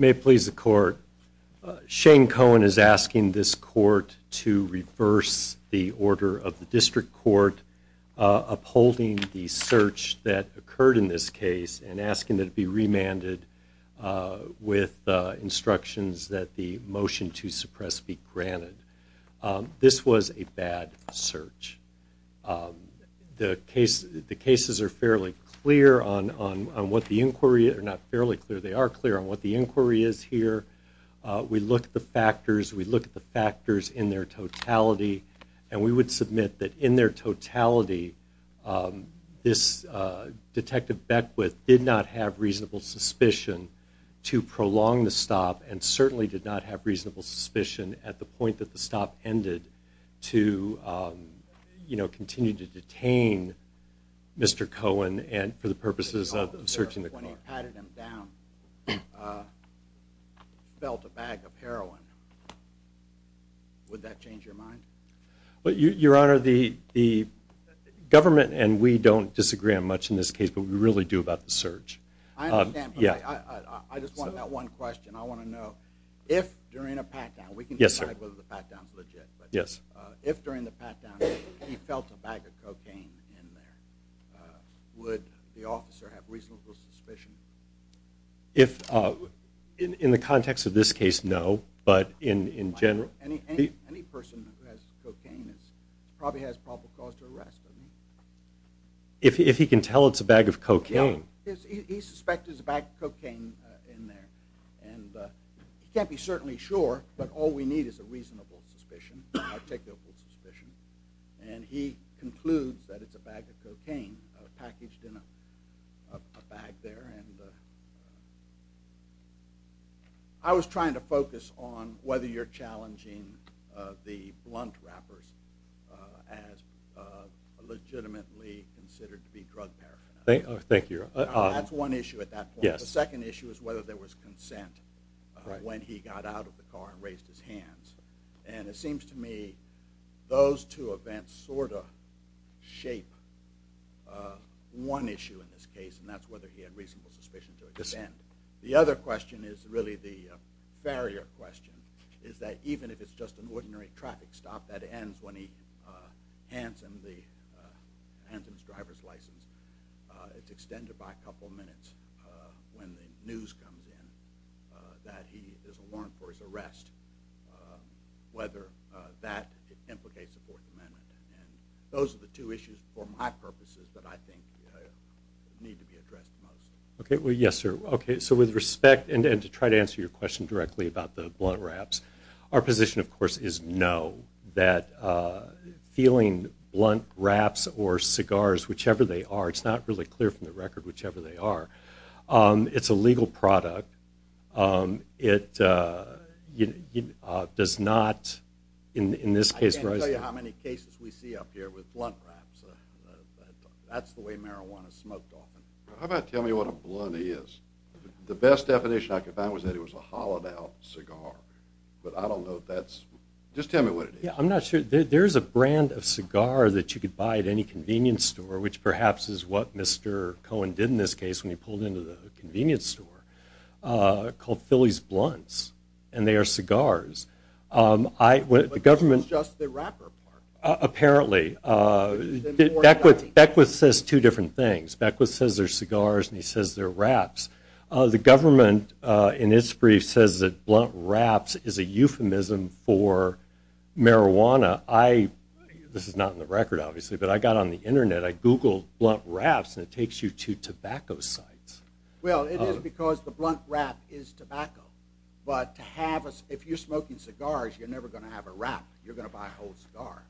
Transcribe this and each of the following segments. May it please the court, Shane Cohen is asking this court to reverse the order of the district court upholding the search that occurred in this case and asking that it be remanded with instructions that the motion to suppress be granted. This was a bad search. The cases are fairly clear on what the inquiry, not fairly clear, they are clear on what the inquiry is here. We look at the factors, we look at the factors in their totality and we would submit that in their totality this Detective Beckwith did not have reasonable suspicion to prolong the stop and certainly did not have reasonable suspicion at the point that the stop ended to you know continue to detain Mr. Cohen and for the purposes of searching the car. When he patted him down, felt a bag of heroin, would that change your mind? Your Honor the government and we don't disagree on much in this case but we really do about the search. I understand but I just want that one question, I want to know if during a pat down, if during the pat down he felt a bag of cocaine in there, would the officer have reasonable suspicion? In the context of this case no but in general. Any person who has cocaine probably has probable cause to arrest. If he can tell it's a bag of cocaine. He suspected it's a bag of cocaine in there and he can't be certainly sure but all we need is a reasonable suspicion, articulable suspicion and he concludes that it's a bag of cocaine packaged in a bag there and I was trying to focus on whether you're challenging the blunt rappers as legitimately considered to be drug paraphernalia. Thank you. That's one issue at that point. The second issue is whether there was consent when he got out of the car and raised his hands and it seems to me those two events sort of shape one issue in this case and that's whether he had reasonable suspicion to attend. The other question is really the barrier question is that even if it's just an driver's license it's extended by a couple minutes when the news comes in that he is a warrant for his arrest whether that implicates the Fourth Amendment. Those are the two issues for my purposes that I think need to be addressed most. Okay well yes sir okay so with respect and to try to answer your question directly about the blunt raps our position of course is no feeling blunt raps or cigars whichever they are it's not really clear from the record whichever they are it's a legal product it does not in this case. I can't tell you how many cases we see up here with blunt raps. That's the way marijuana is smoked often. How about tell me what a blunt is. The best definition I could find was that it was a hollowed out cigar but I don't know if that's just tell me what it is. I'm not sure there's a brand of cigar that you could buy at any convenience store which perhaps is what Mr. Cohen did in this case when he pulled into the convenience store called Philly's blunts and they are cigars. I went the government just the rapper apparently. Beckwith says two different things. Beckwith says they're cigars and he says they're marijuana. This is not in the record obviously but I got on the internet I googled blunt raps and it takes you to tobacco sites. Well it is because the blunt rap is tobacco but to have us if you're smoking cigars you're never going to have a wrap you're going to buy a whole cigar.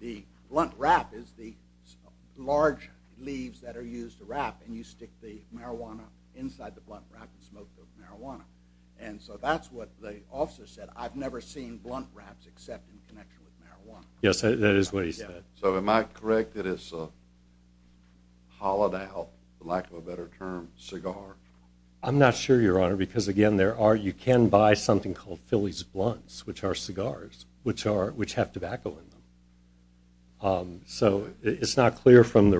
The blunt rap is the large leaves that are used to wrap and you stick the marijuana inside the and so that's what the officer said I've never seen blunt wraps except in connection with marijuana. Yes that is what he said. So am I correct that it's a hollowed out for lack of a better term cigar. I'm not sure your honor because again there are you can buy something called Philly's blunts which are cigars which are which have tobacco in them. So it's not clear from the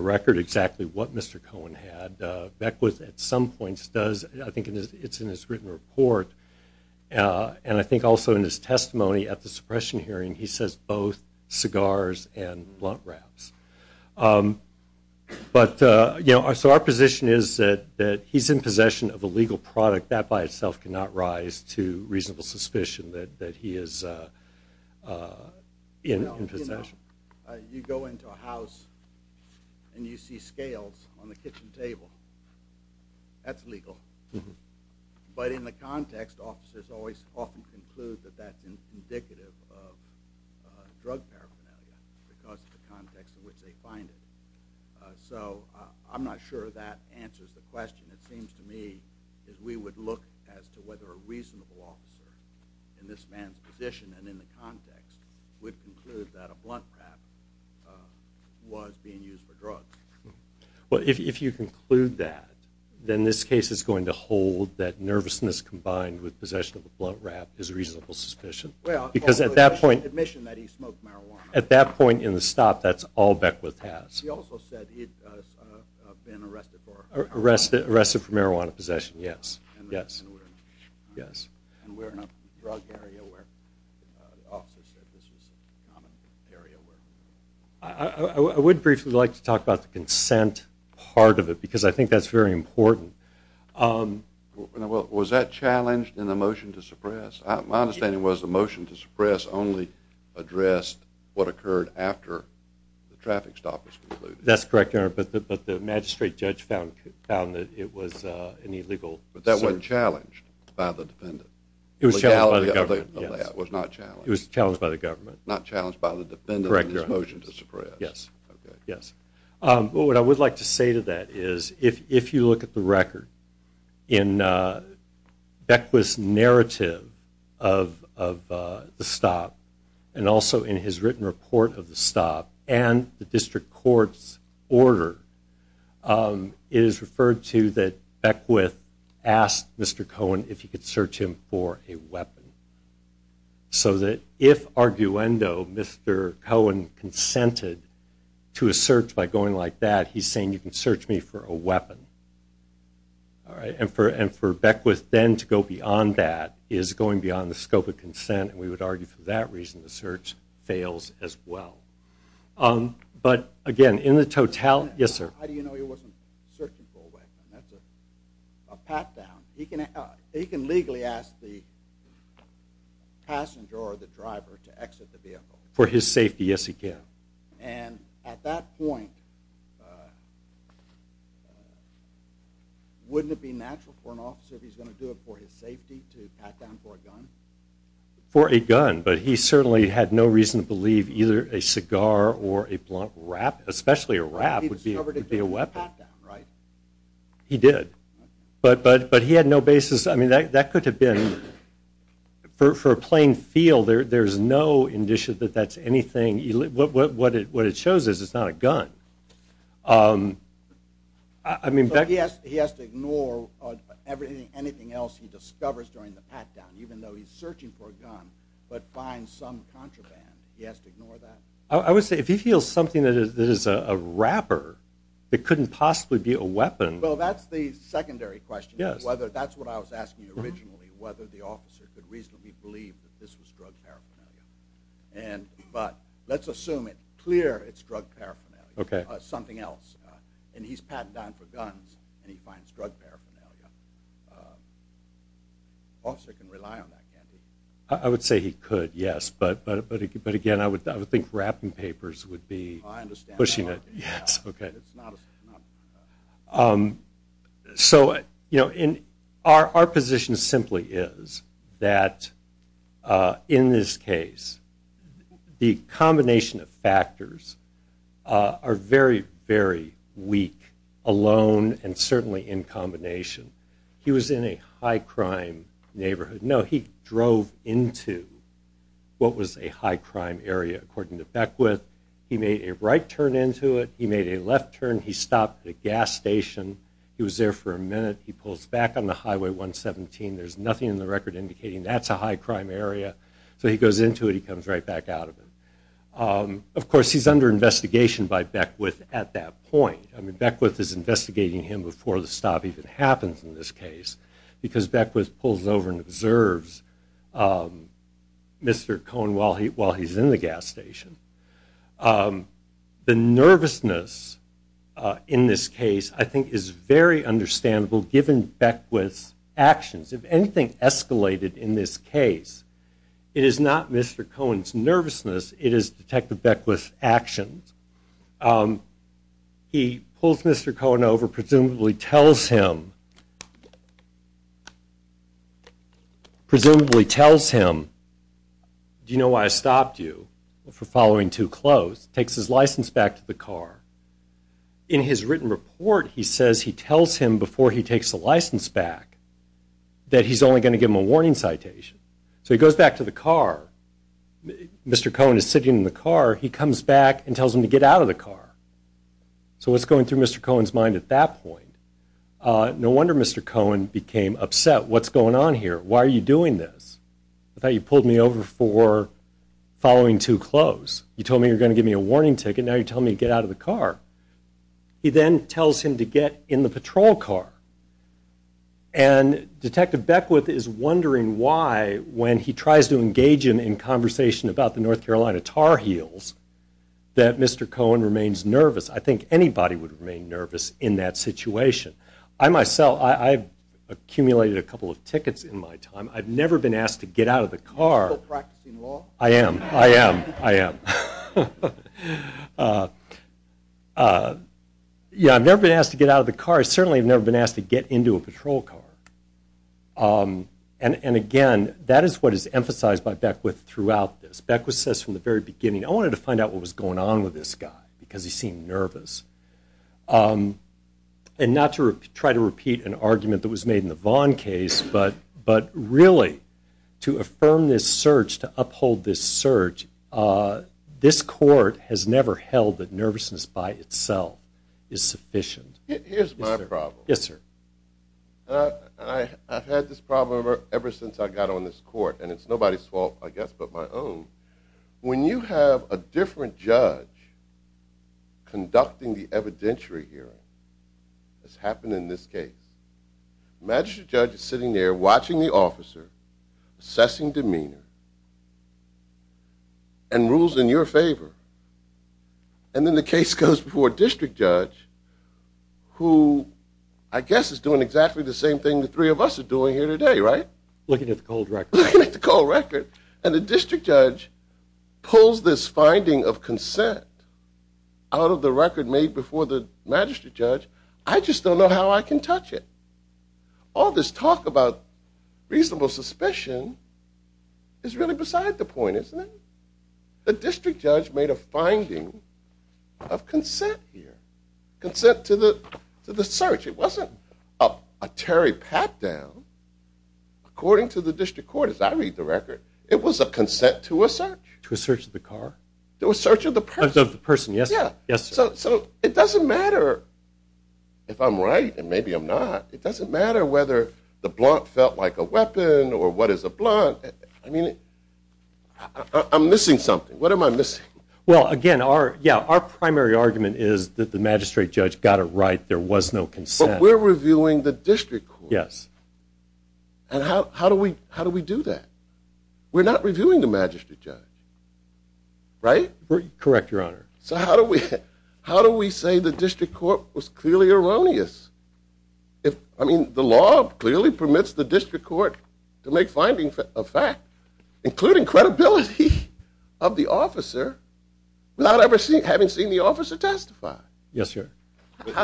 and I think also in his testimony at the suppression hearing he says both cigars and blunt wraps. But you know so our position is that that he's in possession of a legal product that by itself cannot rise to reasonable suspicion that he is in possession. You go into a house and you see scales on the kitchen table that's legal. But in the context officers always often conclude that that's indicative of drug paraphernalia because of the context in which they find it. So I'm not sure that answers the question. It seems to me as we would look as to whether a reasonable officer in this man's position and in the context would conclude that blunt wrap was being used for drugs. Well if you conclude that then this case is going to hold that nervousness combined with possession of a blunt wrap is a reasonable suspicion. Well because at that point admission that he smoked marijuana at that point in the stop that's all Beckwith has. He also said he'd been arrested for arrested arrested for marijuana possession. Yes yes yes and we're in a drug area where the officer said this was a common area where I would briefly like to talk about the consent part of it because I think that's very important. Was that challenged in the motion to suppress? My understanding was the motion to suppress only addressed what occurred after the traffic stop was concluded. That's correct but the magistrate judge found that it was an illegal. But that wasn't challenged by the defendant. It was challenged by the government. It was not challenged. It was challenged by the government. Not challenged by the defendant in his motion to suppress. Yes yes but what I would like to say to that is if you look at the record in Beckwith's narrative of the stop and also in his written report of the stop and the district court's order it is referred to that Beckwith asked Mr. Cohen if he could search him for a weapon. So that if arguendo Mr. Cohen consented to a search by going like that he's saying you can search me for a weapon. All right and for and for Beckwith then to go beyond that is going beyond the scope of consent and we would argue for that reason the search fails as well. But again in the total yes sir. How do you know he wasn't searching for a weapon? That's a pat down. He can legally ask the passenger or the driver to exit the vehicle. For his safety yes he can. And at that point wouldn't it be natural for an officer if he's going to do it for his safety to pat down for a gun? But he certainly had no reason to believe either a cigar or a blunt rap especially a rap would be a weapon. He did but but but he had no basis I mean that that could have been for for a plain feel there there's no indication that that's anything what what it what it shows is it's not a gun. I mean yes he has to ignore everything anything else he discovers during the pat down even though he's searching for a gun but finds some contraband he has to ignore that. I would say if he feels something that is a rapper it couldn't possibly be a weapon. Well that's the secondary question whether that's what I was asking originally whether the officer could reasonably believe that this was drug paraphernalia and but let's assume it clear it's drug paraphernalia something else and he's patting down for guns and he finds drug paraphernalia. Officer can rely on that can't he? I would say he could yes but but but but again I would I would think wrapping papers would be pushing it yes okay. So you know in our our position simply is that in this case the combination of factors are very very weak alone and certainly in combination. He was in a high crime neighborhood no he drove into what was a high crime area according to Beckwith. He made a right turn into it he made a left turn he stopped at a gas station he was there for a minute he pulls back on the highway 117 there's nothing in the record indicating that's a high crime area so he goes into it he comes right back out of it. Of course he's under investigation by Beckwith at that point I mean Beckwith is investigating him before the stop even happens in this case because Beckwith pulls over and observes Mr. Cohen while he while he's in the gas station. The nervousness in this case I think is very understandable given Beckwith's actions if anything escalated in this case it is not Mr. Cohen's nervousness it is Detective Beckwith's actions. He pulls Mr. Cohen over presumably tells him presumably tells him do you know why I stopped you for following too close takes his license back to the car. In his written report he says he tells him before he takes the license back that he's only going to give him a warning citation so he goes back to the car Mr. Cohen is sitting in the car he comes back and tells him to get out of the car. So what's going through Mr. Cohen's mind at that point? No one's going to tell him to get out of the car. No wonder Mr. Cohen became upset what's going on here why are you doing this? I thought you pulled me over for following too close you told me you're going to give me a warning ticket now you're telling me to get out of the car. He then tells him to get in the patrol car and Detective Beckwith is wondering why when he tries to engage him in conversation about the North Carolina Tar Heels that Mr. Cohen remains nervous. I think anybody would remain nervous in that situation. I myself I've accumulated a couple of tickets in my time I've never been asked to get out of the car. Are you still practicing law? I am I am I am uh uh yeah I've never been asked to get out of the car I certainly have never been asked to get into a patrol car um and and again that is what is emphasized by Beckwith throughout this. Beckwith says from the very beginning I wanted to find out what was going on with this guy because he seemed nervous um and not to try to repeat an argument that was made in the Vaughn case but but really to affirm this search to uphold this search uh this court has never held that nervousness by itself is sufficient. Here's my problem. Yes sir. I I've had this problem ever since I got on this court and it's nobody's fault I guess but my own when you have a different judge conducting the evidentiary hearing has happened in this case. Magistrate judge is sitting there watching the officer assessing demeanor and rules in your favor and then the case goes before a district judge who I guess is doing exactly the same thing the three of us are doing here today right? Looking at the cold record. Looking at the cold record and the district judge pulls this finding of consent out of the record made before the magistrate judge I just don't know how I can touch it. All this talk about reasonable suspicion is really beside the point isn't it? The district judge made a finding of consent here. Consent to the to the search it up a terry pat down according to the district court as I read the record it was a consent to a search. To a search of the car? There was search of the person. Of the person yes. Yeah. Yes sir. So it doesn't matter if I'm right and maybe I'm not it doesn't matter whether the blunt felt like a weapon or what is a blunt I mean I'm missing something what am I missing? Well again our yeah our primary argument is that the magistrate judge got it right there was no we're reviewing the district court. Yes. And how how do we how do we do that? We're not reviewing the magistrate judge right? Correct your honor. So how do we how do we say the district court was clearly erroneous? If I mean the law clearly permits the district court to make findings of fact including credibility of the officer without ever seeing having seen the officer testify. Yes sir. I'm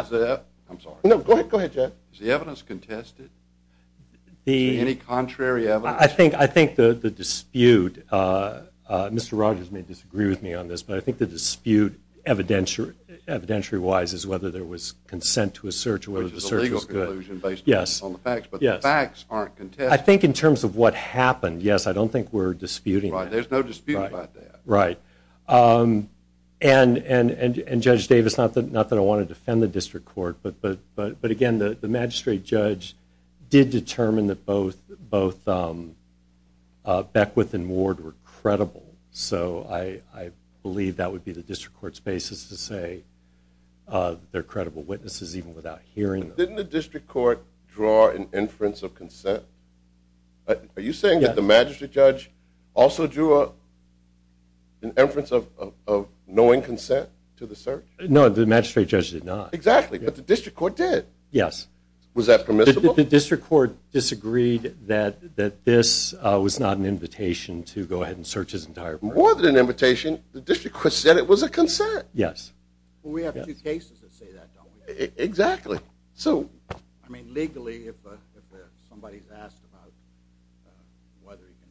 sorry. No go ahead go ahead Jeff. Is the evidence contested? The any contrary evidence? I think I think the the dispute uh uh Mr. Rogers may disagree with me on this but I think the dispute evidentiary evidentiary wise is whether there was consent to a search or whether the search is good. Which is a legal conclusion based on the facts but the facts aren't contested. I think in terms of what happened yes I don't think we're disputing. Right there. Right um and and and Judge Davis not that not that I want to defend the district court but but but but again the the magistrate judge did determine that both both um uh Beckwith and Ward were credible. So I I believe that would be the district court's basis to say uh they're credible witnesses even without hearing. Didn't the district court draw an inference of consent? Are you saying that the magistrate judge also drew a an inference of of knowing consent to the search? No the magistrate judge did not. Exactly but the district court did. Yes. Was that permissible? The district court disagreed that that this uh was not an invitation to go ahead and search his entire. More than an invitation the district said it was a consent. Yes. Well we have two cases that say that don't we? Exactly. So I mean legally if somebody's about uh whether you can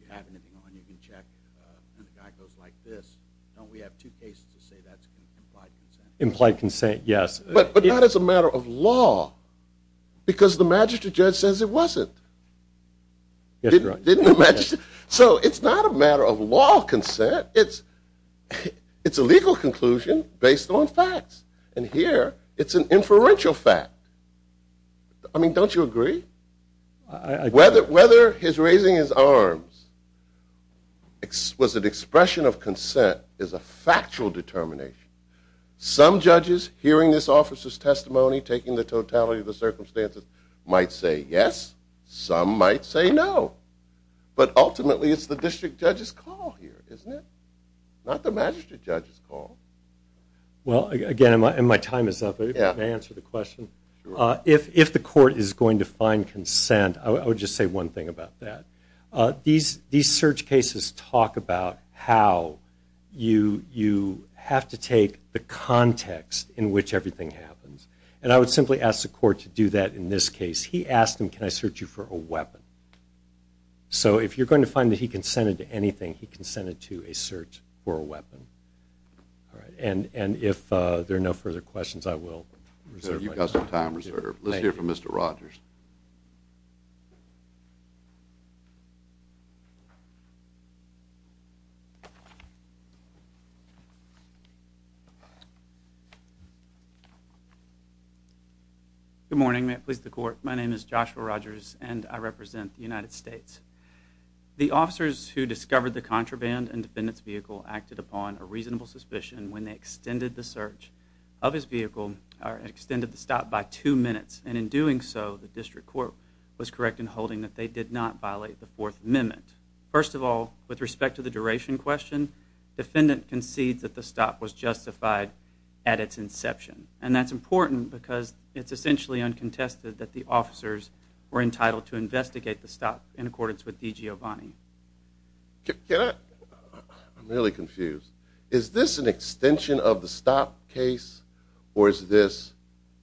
you have anything on you can check uh and the guy goes like this don't we have two cases to say that's implied consent? Implied consent yes. But but that is a matter of law because the magistrate judge says it wasn't. Yes. Didn't the magistrate so it's not a matter of law consent it's it's a legal conclusion based on facts and here it's an inferential fact. I mean don't you agree? I. Whether whether his raising his arms was an expression of consent is a factual determination. Some judges hearing this officer's testimony taking the totality of the circumstances might say yes some might say no. But ultimately it's the district judge's call here isn't it? Not the magistrate judge's call. Well again and my time is up. Yeah. May I answer the question? Sure. If if the court is going to find consent I would just say one thing about that. These these search cases talk about how you you have to take the context in which everything happens and I would simply ask the court to do that in this case. He asked him can I search you for a weapon? So if you're going to find that he consented to anything he consented to a search for a weapon. And and if uh there are no further questions I will. You've got some time reserved. Let's hear from Mr. Rogers. Good morning may it please the court my name is Joshua Rogers and I represent the United States. The officers who discovered the contraband and defendants vehicle acted upon a reasonable suspicion when they extended the search of his vehicle or extended the stop by two minutes and in doing so the district court was correct in holding that they did not violate the fourth amendment. First of all with respect to the duration question defendant concedes that the stop was justified at its inception and that's important because it's essentially uncontested that the officers were entitled to investigate the stop in accordance with D.G. O'Bonnie. Yeah I'm really confused. Is this an extension of the stop case or is this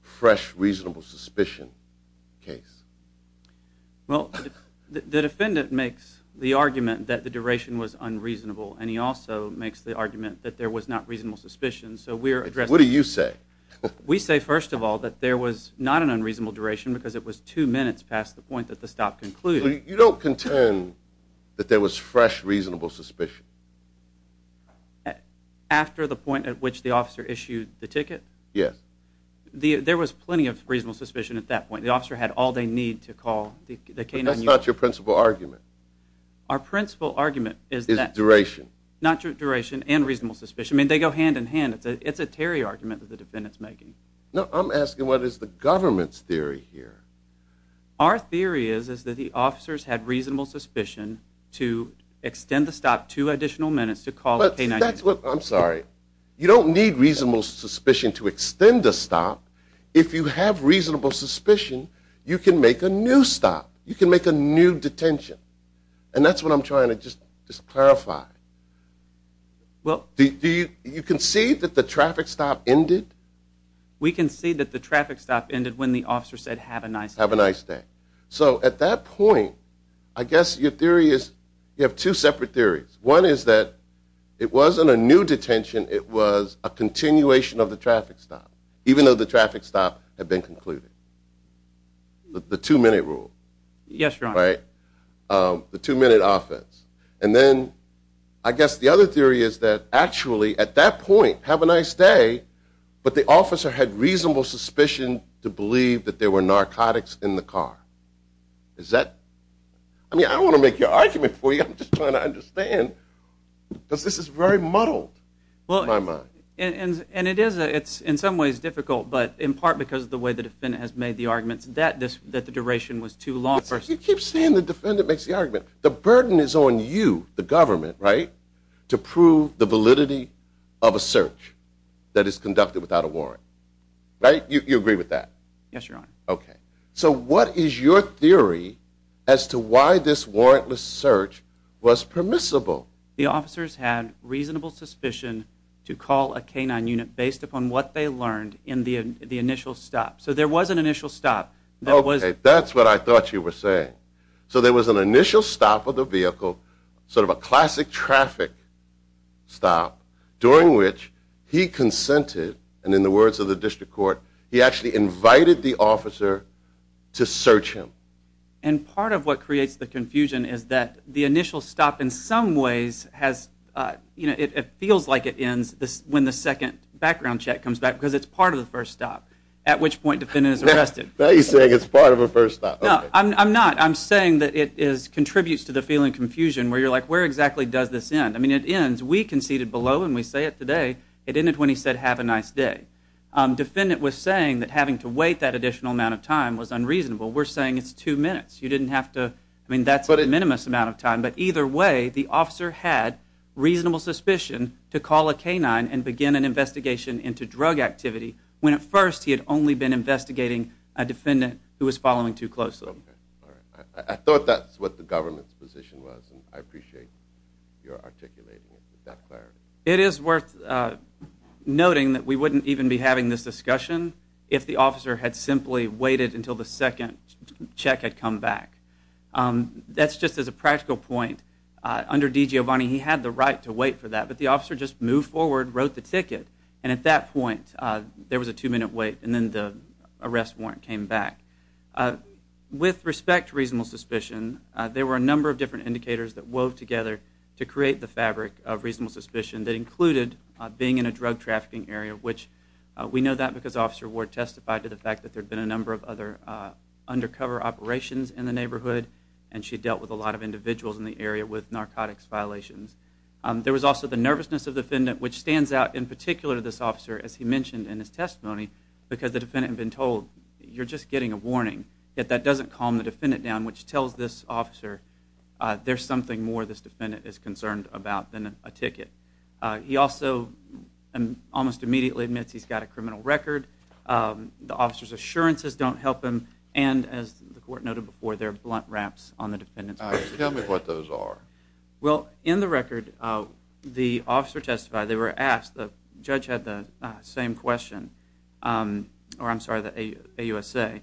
fresh reasonable suspicion case? Well the defendant makes the argument that the duration was unreasonable and he also makes the argument that there was not reasonable suspicion so we're addressing. What do you say? We say first of all that there was not an unreasonable duration because it was two minutes past the point that the stop concluded. You don't contend that there was fresh reasonable suspicion? After the point at which the officer issued the ticket? Yes. There was plenty of reasonable suspicion at that point. The officer had all they need to call the canine. That's not your principal argument. Our principal argument is that. Is duration. Not duration and reasonable suspicion. I mean they go hand in hand. It's a Terry argument that the defendant's making. No I'm asking what is the government's theory here? Our theory is is that the officers had to stop two additional minutes to call the canine. I'm sorry you don't need reasonable suspicion to extend a stop. If you have reasonable suspicion you can make a new stop. You can make a new detention and that's what I'm trying to just just clarify. Well do you can see that the traffic stop ended? We can see that the traffic stop ended when the officer said have a nice day. Have a nice day. So at that point I guess your theory is you have two separate theories. One is that it wasn't a new detention. It was a continuation of the traffic stop even though the traffic stop had been concluded. The two minute rule. Yes your honor. Right. The two minute offense and then I guess the other theory is that actually at that point have a nice day but the officer had reasonable suspicion to is that I mean I want to make your argument for you. I'm just trying to understand because this is very muddled in my mind. And it is it's in some ways difficult but in part because of the way the defendant has made the arguments that this that the duration was too long. You keep saying the defendant makes the argument. The burden is on you the government right to prove the validity of a search that is conducted without a warrant right. You agree with that? Yes your honor. Okay so what is your theory as to why this warrantless search was permissible? The officers had reasonable suspicion to call a K-9 unit based upon what they learned in the initial stop. So there was an initial stop. Okay that's what I thought you were saying. So there was an initial stop of the vehicle sort of a classic traffic stop during which he consented and in the words of the district court he actually invited the officer to search him. And part of what creates the confusion is that the initial stop in some ways has uh you know it feels like it ends this when the second background check comes back because it's part of the first stop at which point defendant is arrested. Now you're saying it's part of a first stop. No I'm not. I'm saying that it is contributes to the feeling confusion where you're like where exactly does this end? I mean it ends we conceded below and we say it today it ended when he said have a nice day. Defendant was saying that having to wait that additional amount of time was unreasonable. We're saying it's two minutes. You didn't have to I mean that's a minimum amount of time but either way the officer had reasonable suspicion to call a K-9 and begin an investigation into drug activity when at first he had only been investigating a defendant who was following too closely. All right I thought that's what the government's position was and I appreciate your articulating it with that clarity. It is worth noting that we wouldn't even be having this discussion if the officer had simply waited until the second check had come back. That's just as a practical point. Under D. Giovanni he had the right to wait for that but the officer just moved forward wrote the ticket and at that point there was a two-minute wait and then the arrest warrant came back. With respect to reasonable suspicion there were a number of different indicators that wove together to create the fabric of reasonable suspicion that included being in a drug trafficking area which we know that because Officer Ward testified to the fact that there had been a number of other undercover operations in the neighborhood and she dealt with a lot of individuals in the area with narcotics violations. There was also the nervousness of the defendant which stands out in particular to this officer as he mentioned in his testimony because the defendant had been told you're just getting a warning yet that doesn't calm the defendant down which tells this officer there's something more this defendant is concerned about than a ticket. He also almost immediately admits he's got a criminal record. The officer's assurances don't help him and as the court noted before there are blunt wraps on the defendant's record. Tell me what those are. Well in the record the officer testified they were asked the judge had the same question or I'm sorry the AUSA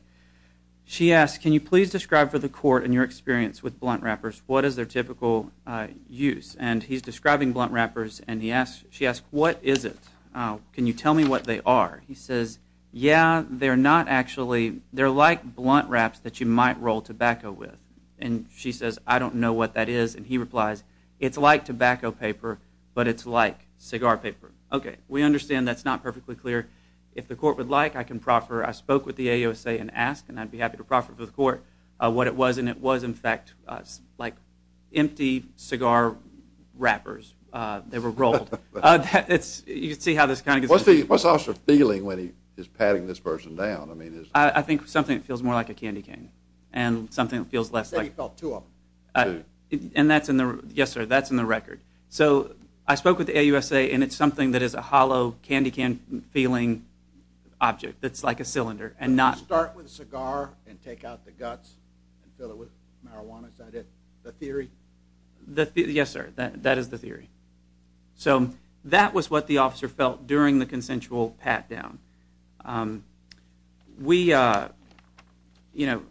she asked can you please describe for the court and your experience with blunt wrappers what is their typical use and he's describing blunt wrappers and he asked she asked what is it can you tell me what they are he says yeah they're not actually they're like blunt wraps that you might roll tobacco with and she says I don't know what that is and he replies it's like tobacco paper but it's like cigar paper okay we understand that's not perfectly clear if the court would like I can proffer I spoke with the AUSA and ask and I'd be happy to proffer for the court what it was and it was in fact like empty cigar wrappers they were rolled it's you see how this kind of what's the what's officer feeling when he is patting this person down I mean I think something that feels more like a candy cane and something that feels felt to him and that's in the yes sir that's in the record so I spoke with the AUSA and it's something that is a hollow candy can feeling object that's like a cylinder and not start with cigar and take out the guts and fill it with marijuana is that it the theory the yes sir that that is the theory so that was what the officer felt during the consensual pat down um we uh you know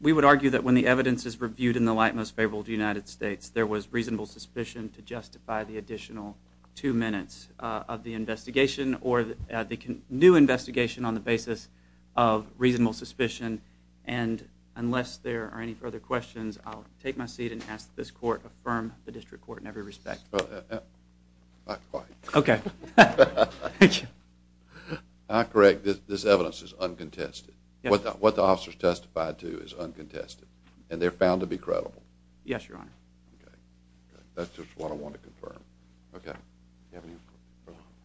we would argue that when the evidence is reviewed in the light most favorable to United States there was reasonable suspicion to justify the additional two minutes of the investigation or the new investigation on the basis of reasonable suspicion and unless there are any further questions I'll take my seat and ask this court affirm the district court in every respect okay I correct this evidence is uncontested what the officers testified to is uncontested and they're found to be credible yes your honor okay that's just what I want to confirm okay you have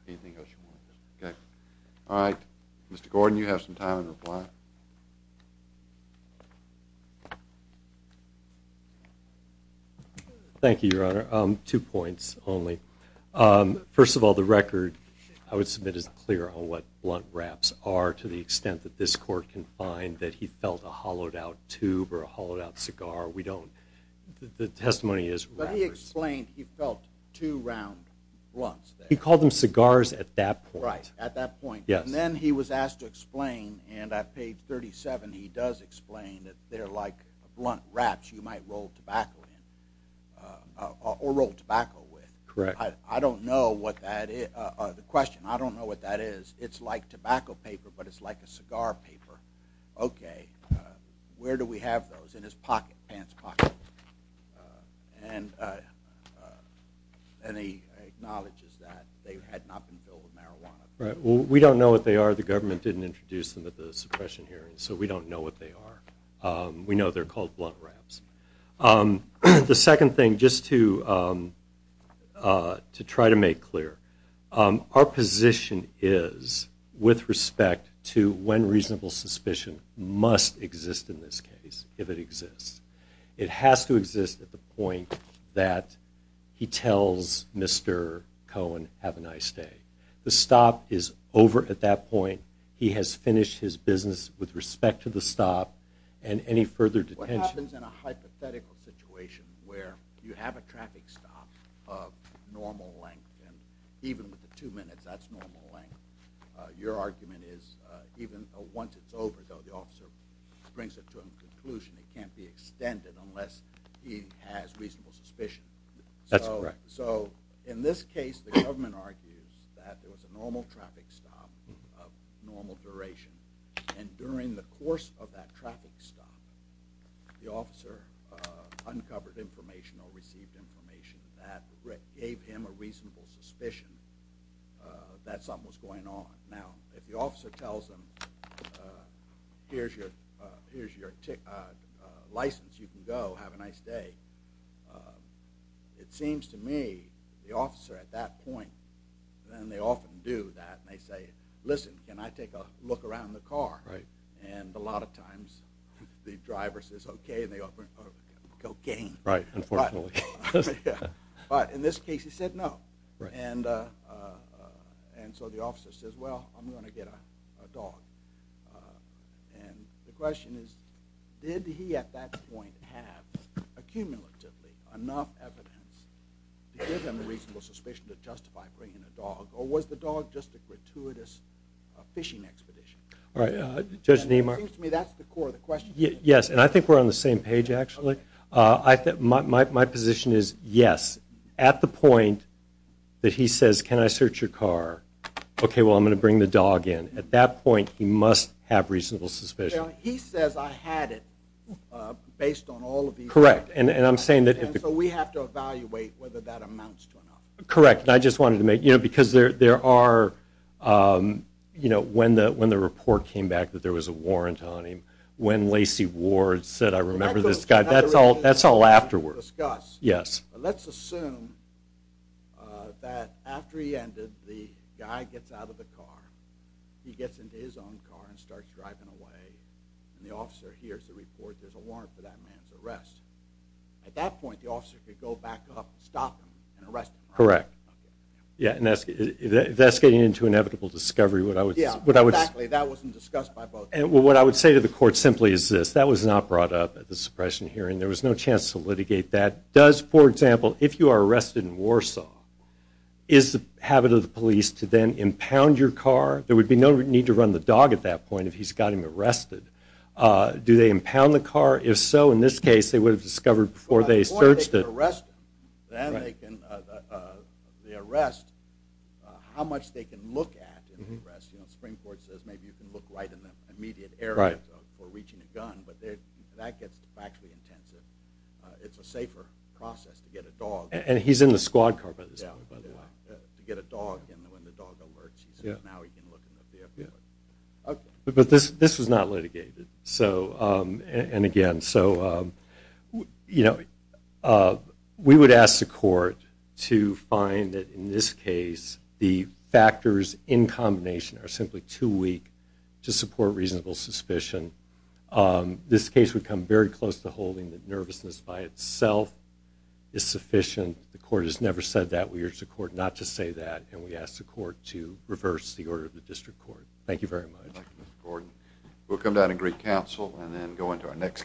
anything else you want okay all right Mr. Gordon you have some time in reply you thank you your honor um two points only um first of all the record I would submit as clear on what blunt raps are to the extent that this court can find that he felt a hollowed out tube or a hollowed out cigar we don't the testimony is but he explained he felt two round blunts he called them cigars at that point right at that point yes and then he was asked to explain and at page 37 he does explain that they're like blunt wraps you might roll tobacco in uh or roll tobacco with correct I don't know what that is uh the question I don't know what that is it's like tobacco paper but it's like a cigar paper okay where do we have those in his pocket pants pocket and uh and he acknowledges that they had not been filled with marijuana right well we don't know what they are the government didn't introduce them at the suppression hearing so we don't know what they are um we know they're called blunt wraps um the second thing just to um uh to try to make clear our position is with respect to when reasonable suspicion must exist in this case if it exists it has to exist at the point that he tells Mr. Cohen have a nice day the stop is over at that point he has finished his business with respect to the stop and any further detentions in a hypothetical situation where you have a traffic stop of normal length and even with the two minutes that's normal length uh your argument is uh even once it's over though the officer brings it to a conclusion it can't be extended unless he has reasonable suspicion that's correct so in this case the government argues that there was a normal traffic stop of normal duration and during the course of that traffic stop the officer uncovered information or received information that gave him a reasonable suspicion that something was going on now if the officer tells them uh here's your uh here's your uh license you can go have a nice day it seems to me the officer at that point then they often do that and they say listen can I take a look around the car right and a lot of times the driver says okay and they open cocaine right unfortunately but in this case he said no and uh uh and so the officer says well i'm going to get a dog and the question is did he at that point have accumulatively enough evidence to give them a reasonable suspicion to justify bringing a dog or was the dog just a gratuitous fishing expedition all right uh judge neimark seems to me that's the core of the question yes and i think we're on the same page actually uh i think my my position is yes at the point that he says can i search your car okay well i'm going to bring the dog in at that point he must have reasonable suspicion he says i had it uh based on all of these correct and and i'm saying that so we have to evaluate whether that amounts to enough correct i just wanted to make you know because there there are um you know when the when the report came back that there was a warrant on him when lacey ward said i remember this guy that's all that's all afterwards yes let's assume that after he ended the guy gets out of the car he gets into his own car and starts driving away and the officer hears the report there's a warrant for that man's arrest at that point the officer could go back up stop him and arrest him correct yeah and that's that's getting into inevitable discovery what i would yeah what i would actually that wasn't discussed by both and what i would say to the court simply is this that was not brought up at the suppression hearing there was no chance to litigate that does for example if you are arrested in warsaw is the habit of the police to then impound your car there would be no need to run the dog at that point if he's got him arrested uh do they impound the car if so in this case they would have discovered before they searched it arrest them then they can uh uh the arrest uh how much they can look at in the arrest you know springford says maybe you can look right in the immediate area for reaching a gun but that gets factually intensive uh it's a safer process to get a dog and he's in the squad car by this point by the way to get a dog and when the dog alerts he says now he can look in the vehicle but this this was not litigated so um and again so um you know we would ask the court to find that in this case the factors in combination are simply too weak to support reasonable suspicion um this case would come very close to holding the nervousness by itself is sufficient the court has never said that we urge the court not to say that and we ask the court to reverse the order of the district court thank you very much gordon we'll come down and greet counsel and then go into our next case